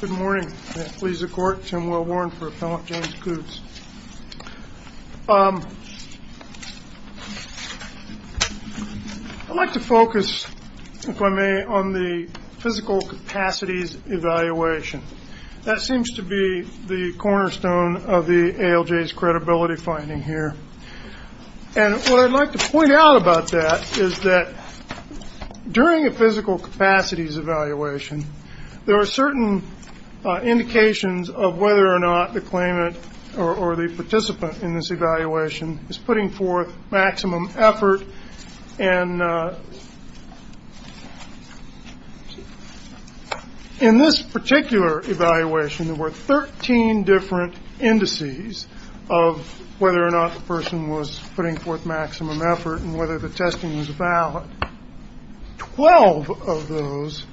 Good morning. I'd like to focus, if I may, on the physical capacities evaluation. That seems to be the cornerstone of the ALJ's credibility finding here. And what I'd like to point out about that is that during a physical capacities evaluation, there are certain indications of whether or not the claimant or the participant in this evaluation is putting forth maximum effort. And in this particular evaluation, there were 13 different indices of whether or not the person was putting forth maximum effort and whether the testing was valid. Twelve of those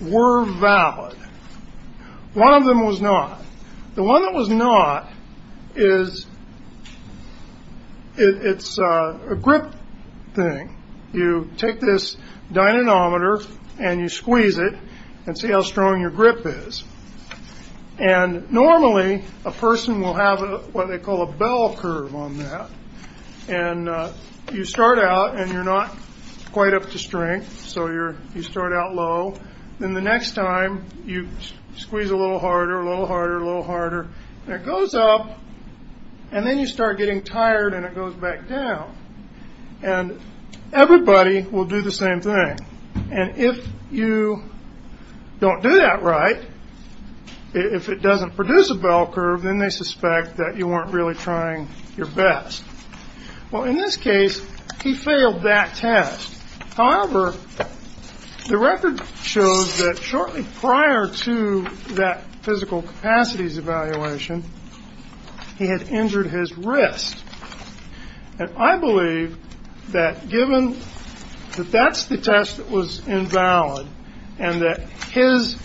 were valid. One of them was not. The one that was not is a grip thing. You take this dynamometer and you squeeze it and see how strong your grip is. And normally, a person will have what they call a bell curve on that. And you start out, and you're not quite up to strength, so you start out low. Then the next time, you squeeze a little harder, a little harder, a little harder. And it goes up, and then you start getting tired, and it goes back down. And everybody will do the same thing. And if you don't do that right, if it doesn't produce a bell curve, then they suspect that you weren't really trying your best. Well, in this case, he failed that test. However, the record shows that shortly prior to that physical capacities evaluation, he had injured his wrist. And I believe that given that that's the test that was invalid and that his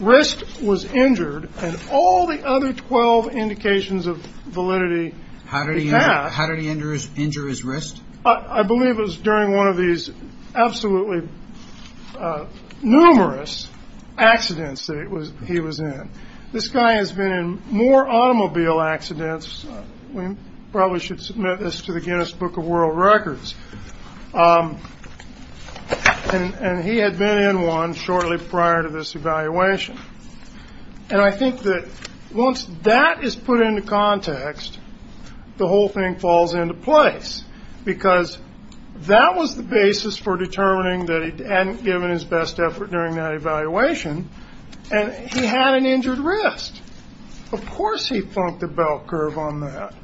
wrist was injured and all the other 12 indications of validity passed. How did he injure his wrist? I believe it was during one of these absolutely numerous accidents that he was in. This guy has been in more automobile accidents. We probably should submit this to the Guinness Book of World Records. And he had been in one shortly prior to this evaluation. And I think that once that is put into context, the whole thing falls into place, because that was the basis for determining that he hadn't given his best effort during that evaluation, and he had an injured wrist. Of course he flunked the bell curve on that.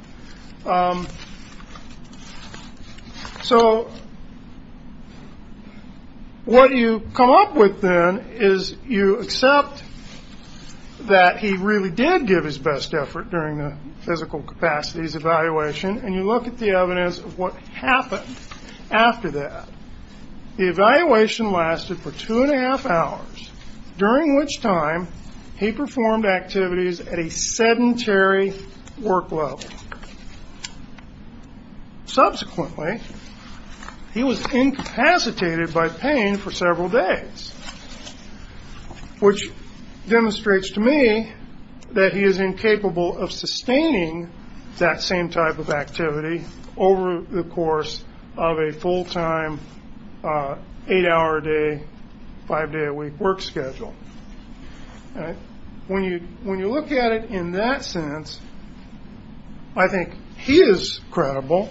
So what you come up with then is you accept that he really did give his best effort during the physical capacities evaluation, and you look at the evidence of what happened after that. The evaluation lasted for two-and-a-half hours, during which time he performed activities at a sedentary work level. Subsequently, he was incapacitated by pain for several days, which demonstrates to me that he is incapable of sustaining that same type of activity over the course of a full-time, eight-hour-a-day, five-day-a-week work schedule. When you look at it in that sense, I think he is credible.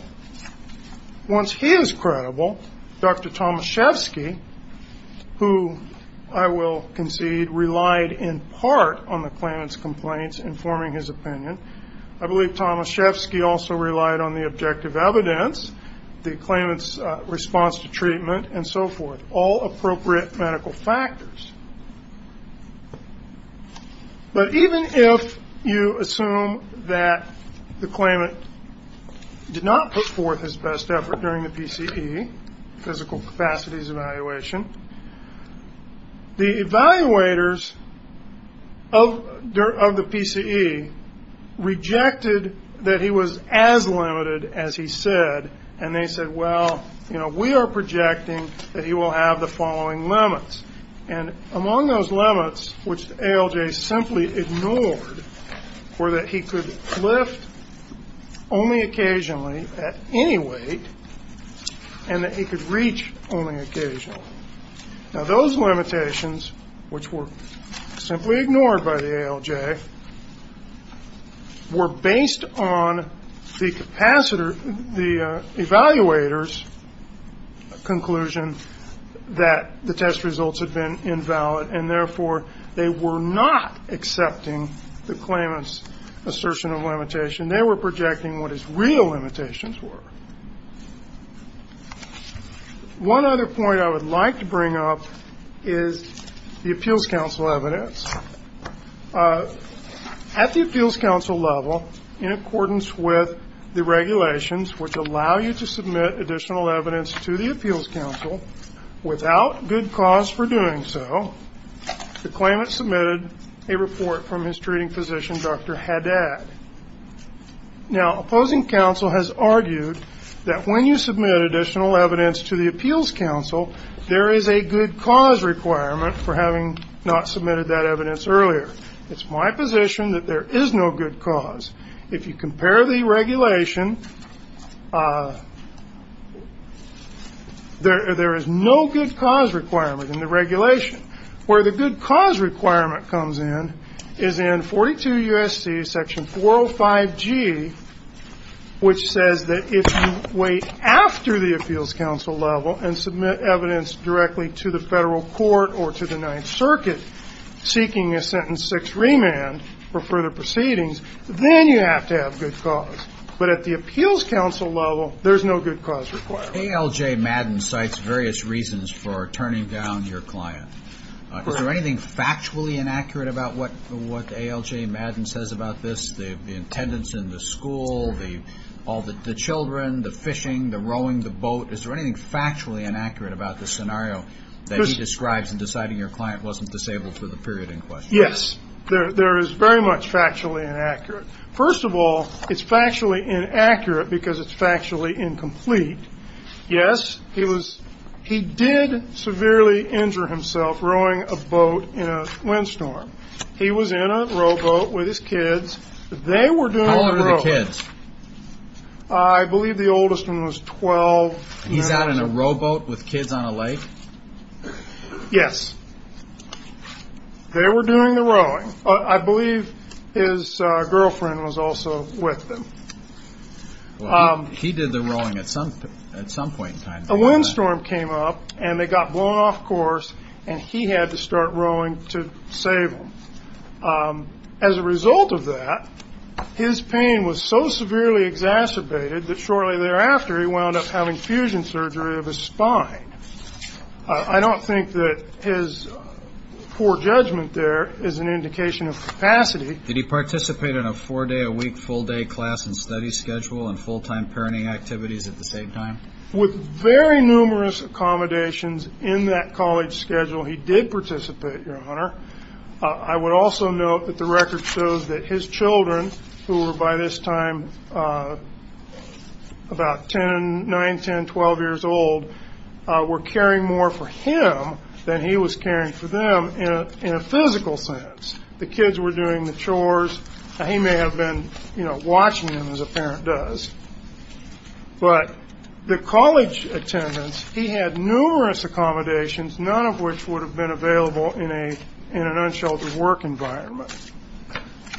Once he is credible, Dr. Tomaszewski, who I will concede relied in part on the claimant's complaints informing his opinion, I believe Tomaszewski also relied on the objective evidence, the claimant's response to treatment, and so forth, all appropriate medical factors. But even if you assume that the claimant did not put forth his best effort during the PCE, physical capacities evaluation, the evaluators of the PCE rejected that he was as limited as he said, and they said, well, you know, we are projecting that he will have the following limits. And among those limits, which ALJ simply ignored, were that he could lift only occasionally at any weight and that he could reach only occasionally. Now, those limitations, which were simply ignored by the ALJ, were based on the evaluator's conclusion that the test results had been invalid, and therefore they were not accepting the claimant's assertion of limitation. They were projecting what his real limitations were. One other point I would like to bring up is the appeals counsel evidence. At the appeals counsel level, in accordance with the regulations, which allow you to submit additional evidence to the appeals counsel without good cause for doing so, the claimant submitted a report from his treating physician, Dr. Haddad. Now, opposing counsel has argued that when you submit additional evidence to the appeals counsel, there is a good cause requirement for having not submitted that evidence earlier. It's my position that there is no good cause. If you compare the regulation, there is no good cause requirement in the regulation. Where the good cause requirement comes in is in 42 U.S.C. section 405G, which says that if you wait after the appeals counsel level and submit evidence directly to the Federal Court or to the Ninth Circuit seeking a sentence six remand for further proceedings, then you have to have good cause. But at the appeals counsel level, there's no good cause requirement. Al J. Madden cites various reasons for turning down your client. Is there anything factually inaccurate about what Al J. Madden says about this? The attendance in the school, all the children, the fishing, the rowing the boat. Is there anything factually inaccurate about this scenario that he describes in deciding your client wasn't disabled for the period in question? Yes. There is very much factually inaccurate. First of all, it's factually inaccurate because it's factually incomplete. Yes, he did severely injure himself rowing a boat in a windstorm. He was in a rowboat with his kids. They were doing the rowing. How old were the kids? I believe the oldest one was 12. He's out in a rowboat with kids on a lake? Yes. They were doing the rowing. I believe his girlfriend was also with them. He did the rowing at some point in time. A windstorm came up, and they got blown off course, and he had to start rowing to save them. As a result of that, his pain was so severely exacerbated that shortly thereafter he wound up having fusion surgery of his spine. I don't think that his poor judgment there is an indication of capacity. Did he participate in a four-day-a-week, full-day class and study schedule and full-time parenting activities at the same time? With very numerous accommodations in that college schedule, he did participate, Your Honor. I would also note that the record shows that his children, who were by this time about 9, 10, 12 years old, were caring more for him than he was caring for them in a physical sense. The kids were doing the chores. He may have been watching them, as a parent does. But the college attendance, he had numerous accommodations, none of which would have been available in an unsheltered work environment.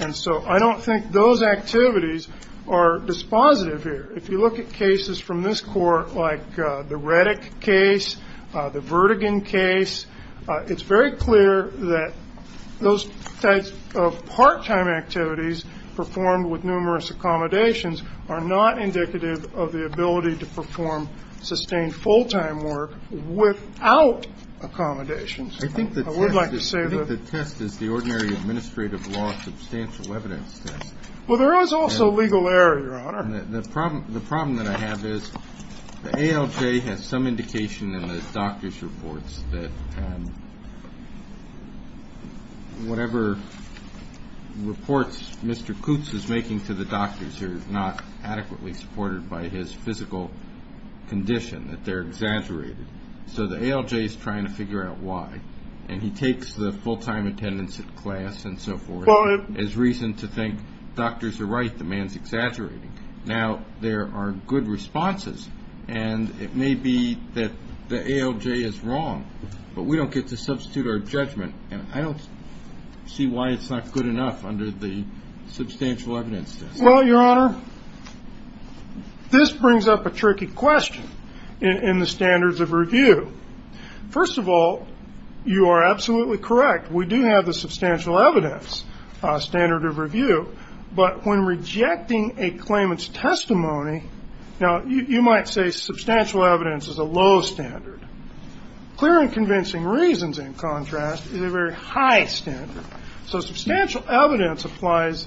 And so I don't think those activities are dispositive here. If you look at cases from this court, like the Reddick case, the Vertigan case, it's very clear that those types of part-time activities performed with numerous accommodations are not indicative of the ability to perform sustained full-time work without accommodations. I would like to say that the test is the ordinary administrative law substantial evidence test. Well, there is also legal error, Your Honor. The problem that I have is the ALJ has some indication in his doctor's reports that whatever reports Mr. Kutz is making to the doctors are not adequately supported by his physical condition, that they're exaggerated. So the ALJ is trying to figure out why, and he takes the full-time attendance at class and so forth as reason to think doctors are right, the man's exaggerating. Now, there are good responses, and it may be that the ALJ is wrong, but we don't get to substitute our judgment, and I don't see why it's not good enough under the substantial evidence test. Well, Your Honor, this brings up a tricky question in the standards of review. First of all, you are absolutely correct. We do have the substantial evidence standard of review, but when rejecting a claimant's testimony, now, you might say substantial evidence is a low standard. Clear and convincing reasons, in contrast, is a very high standard. So substantial evidence applies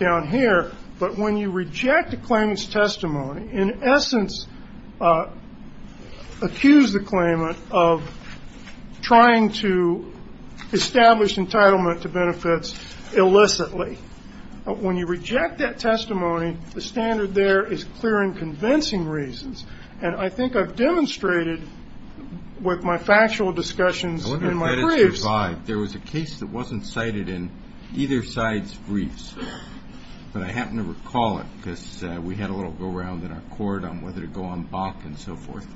down here, but when you reject a claimant's testimony, in essence, accuse the claimant of trying to establish entitlement to benefits illicitly. When you reject that testimony, the standard there is clear and convincing reasons, and I think I've demonstrated with my factual discussions in my briefs. I wonder if that is revived. There was a case that wasn't cited in either side's briefs, but I happen to recall it because we had a little go-around in our court on whether to go on BAC and so forth.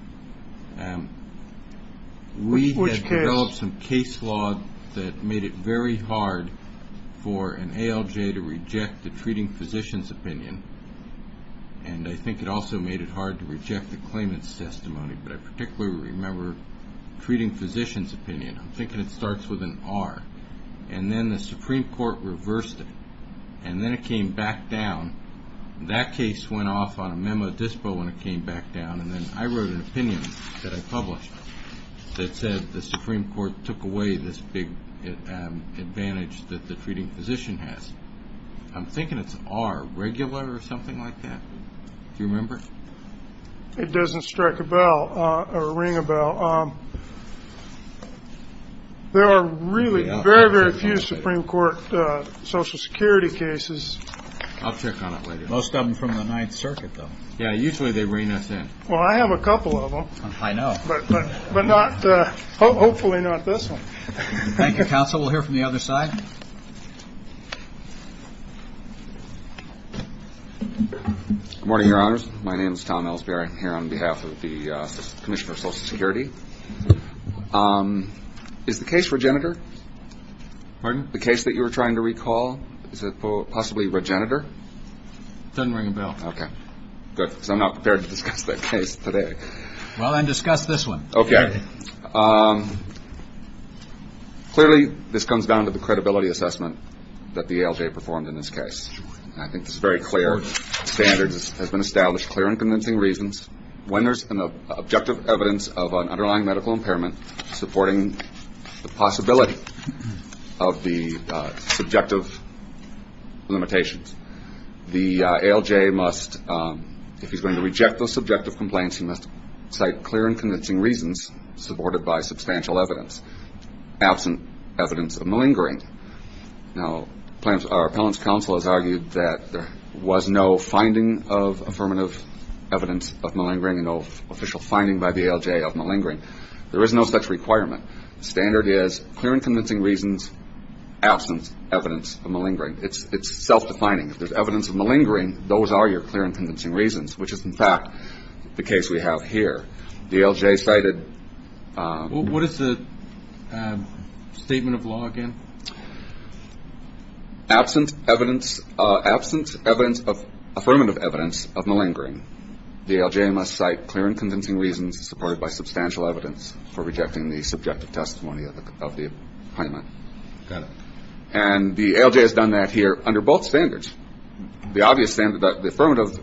We had developed some case law that made it very hard for an ALJ to reject the treating physician's opinion, and I think it also made it hard to reject the claimant's testimony, but I particularly remember treating physician's opinion. I'm thinking it starts with an R, and then the Supreme Court reversed it, and then it came back down. That case went off on a memo dispo when it came back down, and then I wrote an opinion that I published that said the Supreme Court took away this big advantage that the treating physician has. I'm thinking it's an R, regular or something like that. Do you remember? It doesn't strike a bell or ring a bell. There are really very, very few Supreme Court Social Security cases. I'll check on it later. Most of them from the Ninth Circuit, though. Yeah, usually they reign us in. Well, I have a couple of them. I know. But hopefully not this one. Thank you, counsel. We'll hear from the other side. Good morning, Your Honors. My name is Tom Ellsberry. I'm here on behalf of the Commissioner of Social Security. Is the case Regenitor? Pardon? The case that you were trying to recall, is it possibly Regenitor? It doesn't ring a bell. Okay. Good, because I'm not prepared to discuss that case today. Well, then discuss this one. Okay. Clearly, this comes down to the credibility assessment that the ALJ performed in this case. I think this is very clear. Standards have been established, clear and convincing reasons. When there's an objective evidence of an underlying medical impairment, supporting the possibility of the subjective limitations, the ALJ must, if he's going to reject those subjective complaints, he must cite clear and convincing reasons supported by substantial evidence, absent evidence of malingering. Now, our appellant's counsel has argued that there was no finding of affirmative evidence of malingering, no official finding by the ALJ of malingering. There is no such requirement. The standard is clear and convincing reasons, absent evidence of malingering. It's self-defining. If there's evidence of malingering, those are your clear and convincing reasons, which is, in fact, the case we have here. The ALJ cited. What is the statement of law again? Absent evidence of affirmative evidence of malingering, the ALJ must cite clear and convincing reasons supported by substantial evidence for rejecting the subjective testimony of the appellant. Got it. And the ALJ has done that here under both standards. The affirmative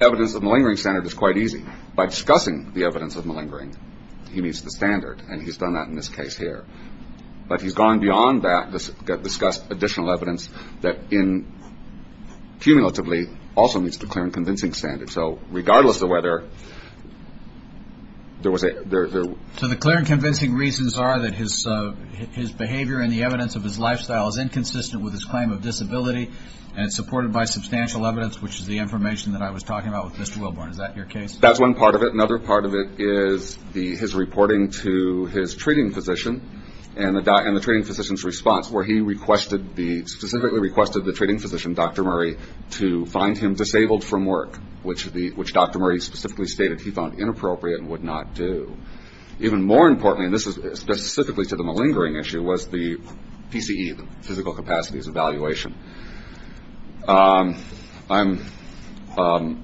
evidence of malingering standard is quite easy. By discussing the evidence of malingering, he meets the standard, and he's done that in this case here. But he's gone beyond that to discuss additional evidence that cumulatively also meets the clear and convincing standard. So regardless of whether there was a ‑‑ So the clear and convincing reasons are that his behavior and the evidence of his lifestyle is inconsistent with his claim of disability, and it's supported by substantial evidence, which is the information that I was talking about with Mr. Wilborn. Is that your case? That's one part of it. Another part of it is his reporting to his treating physician and the treating physician's response, where he specifically requested the treating physician, Dr. Murray, to find him disabled from work, which Dr. Murray specifically stated he found inappropriate and would not do. Even more importantly, and this is specifically to the malingering issue, was the PCE, the physical capacities evaluation. I'm,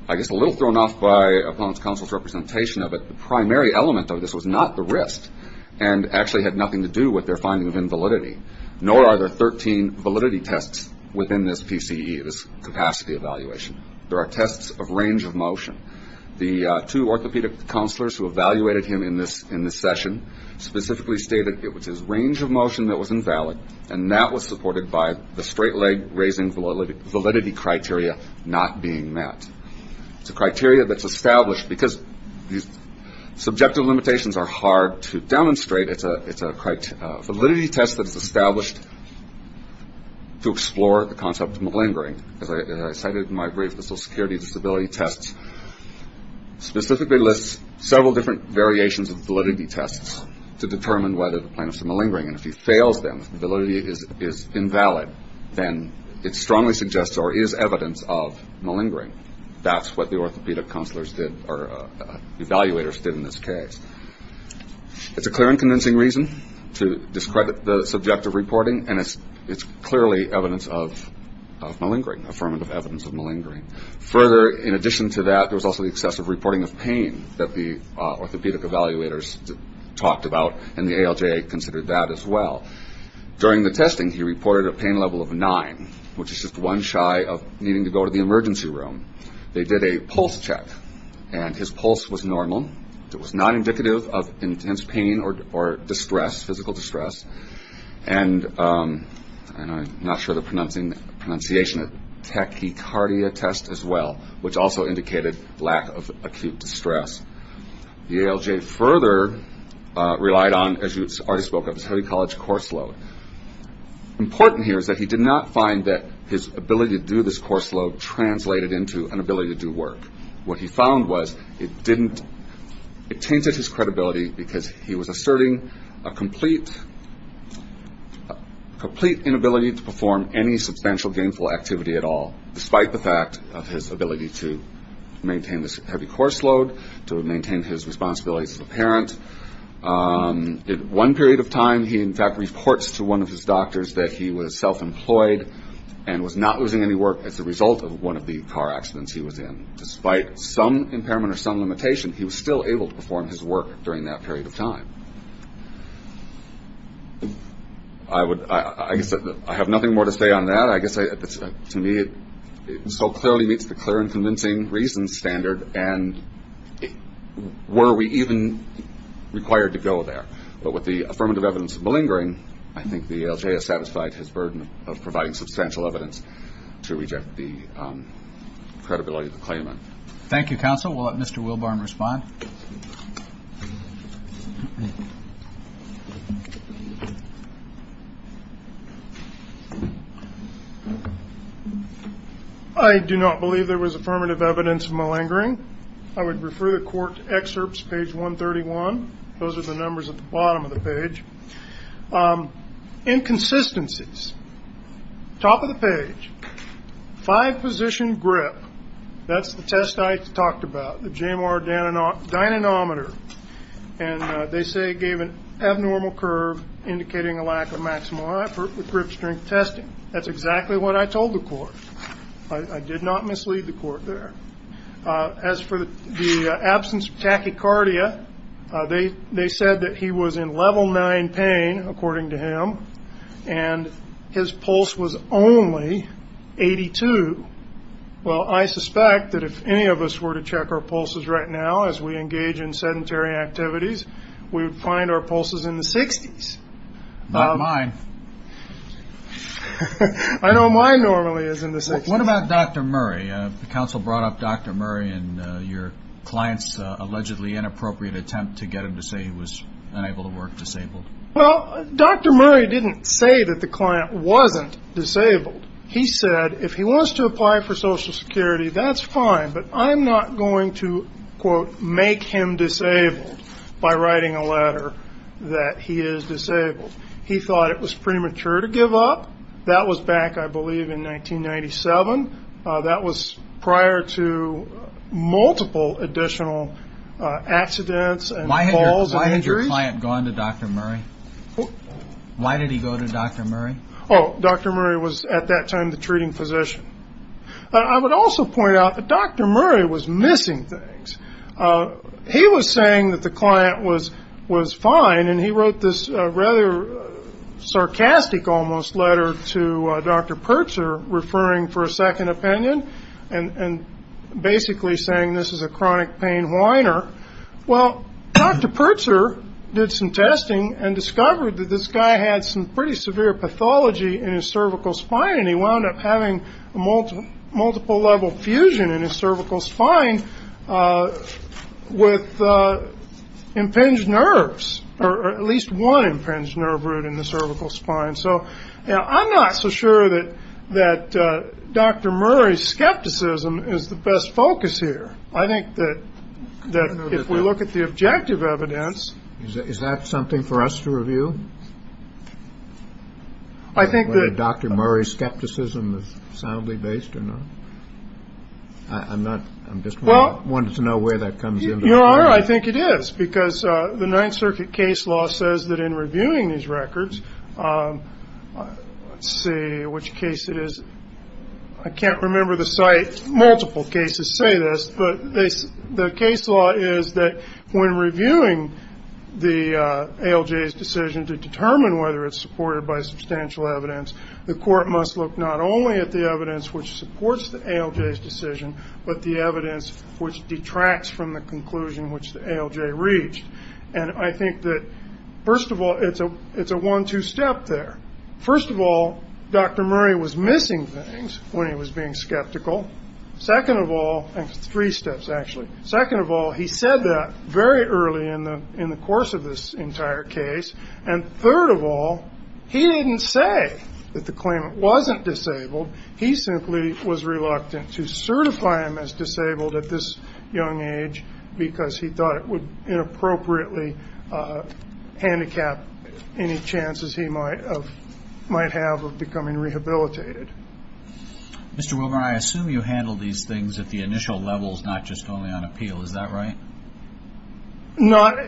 I guess, a little thrown off by opponents' counsel's representation of it. The primary element of this was not the wrist and actually had nothing to do with their finding of invalidity, nor are there 13 validity tests within this PCE, this capacity evaluation. There are tests of range of motion. The two orthopedic counselors who evaluated him in this session specifically stated it was his range of motion that was invalid, and that was supported by the straight leg raising validity criteria not being met. It's a criteria that's established, because these subjective limitations are hard to demonstrate. It's a validity test that's established to explore the concept of malingering. As I cited in my brief, the social security disability test specifically lists several different variations of validity tests to determine whether the plaintiff is malingering, and if he fails them, if the validity is invalid, then it strongly suggests or is evidence of malingering. That's what the orthopedic counselors did, or evaluators did in this case. It's a clear and convincing reason to discredit the subjective reporting, and it's clearly evidence of malingering, affirmative evidence of malingering. Further, in addition to that, there was also the excessive reporting of pain that the orthopedic evaluators talked about, and the ALJ considered that as well. During the testing, he reported a pain level of 9, which is just one shy of needing to go to the emergency room. They did a pulse check, and his pulse was normal. It was not indicative of intense pain or distress, physical distress. And I'm not sure of the pronunciation, a tachycardia test as well, which also indicated lack of acute distress. The ALJ further relied on, as you already spoke of, a study college course load. Important here is that he did not find that his ability to do this course load translated into an ability to do work. What he found was it tainted his credibility because he was asserting a complete inability to perform any substantial gainful activity at all, despite the fact of his ability to maintain this heavy course load, to maintain his responsibilities as a parent. In one period of time, he, in fact, reports to one of his doctors that he was self-employed and was not losing any work as a result of one of the car accidents he was in. Despite some impairment or some limitation, he was still able to perform his work during that period of time. I have nothing more to say on that. I guess to me it so clearly meets the clear and convincing reasons standard, and were we even required to go there. But with the affirmative evidence malingering, I think the ALJ has satisfied his burden of providing substantial evidence to reject the credibility of the claimant. Thank you, counsel. We'll let Mr. Wilburn respond. I do not believe there was affirmative evidence malingering. I would refer the court to excerpts, page 131. Those are the numbers at the bottom of the page. Inconsistencies. Top of the page. Five-position grip. That's the test I talked about, the JMR dynamometer. And they say it gave an abnormal curve, indicating a lack of maximal effort with grip strength testing. That's exactly what I told the court. I did not mislead the court there. As for the absence of tachycardia, they said that he was in level nine pain, according to him, and his pulse was only 82. Well, I suspect that if any of us were to check our pulses right now, as we engage in sedentary activities, we would find our pulses in the 60s. Not mine. I know mine normally is in the 60s. What about Dr. Murray? The counsel brought up Dr. Murray in your client's allegedly inappropriate attempt to get him to say he was unable to work, disabled. Well, Dr. Murray didn't say that the client wasn't disabled. He said if he wants to apply for Social Security, that's fine, but I'm not going to, quote, make him disabled by writing a letter that he is disabled. He thought it was premature to give up. That was back, I believe, in 1997. That was prior to multiple additional accidents and falls and injuries. Why had your client gone to Dr. Murray? Why did he go to Dr. Murray? Oh, Dr. Murray was at that time the treating physician. I would also point out that Dr. Murray was missing things. He was saying that the client was fine, and he wrote this rather sarcastic almost letter to Dr. Pertzer referring for a second opinion and basically saying this is a chronic pain whiner. Well, Dr. Pertzer did some testing and discovered that this guy had some pretty severe pathology in his cervical spine, and he wound up having a multiple-level fusion in his cervical spine with impinged nerves, or at least one impinged nerve root in the cervical spine. So, you know, I'm not so sure that Dr. Murray's skepticism is the best focus here. I think that if we look at the objective evidence. Is that something for us to review? I think that. Whether Dr. Murray's skepticism is soundly based or not? I'm not. I'm just wanting to know where that comes in. You are. I think it is because the Ninth Circuit case law says that in reviewing these records, let's see which case it is. I can't remember the site. Multiple cases say this, but the case law is that when reviewing the ALJ's decision to determine whether it's supported by substantial evidence, the court must look not only at the evidence which supports the ALJ's decision, but the evidence which detracts from the conclusion which the ALJ reached. And I think that, first of all, it's a one-two step there. First of all, Dr. Murray was missing things when he was being skeptical. Second of all, and three steps, actually. Second of all, he said that very early in the course of this entire case. And third of all, he didn't say that the claimant wasn't disabled. He simply was reluctant to certify him as disabled at this young age because he thought it would inappropriately handicap any chances he might have of becoming rehabilitated. Mr. Wilmer, I assume you handled these things at the initial levels, not just only on appeal. Is that right? Not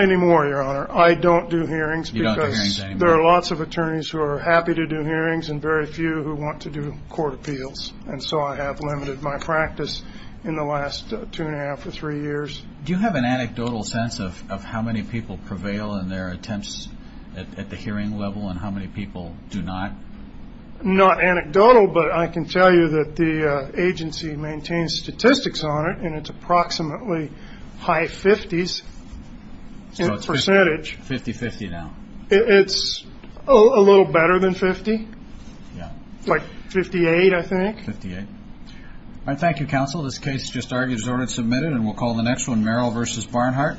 anymore, Your Honor. I don't do hearings because there are lots of attorneys who are happy to do hearings and very few who want to do court appeals. And so I have limited my practice in the last two and a half or three years. Do you have an anecdotal sense of how many people prevail in their attempts at the hearing level and how many people do not? Not anecdotal, but I can tell you that the agency maintains statistics on it, and it's approximately high 50s in percentage. So it's 50-50 now. It's a little better than 50. Like 58, I think. 58. All right, thank you, counsel. This case has just argued as ordered and submitted, and we'll call the next one Merrill v. Barnhart.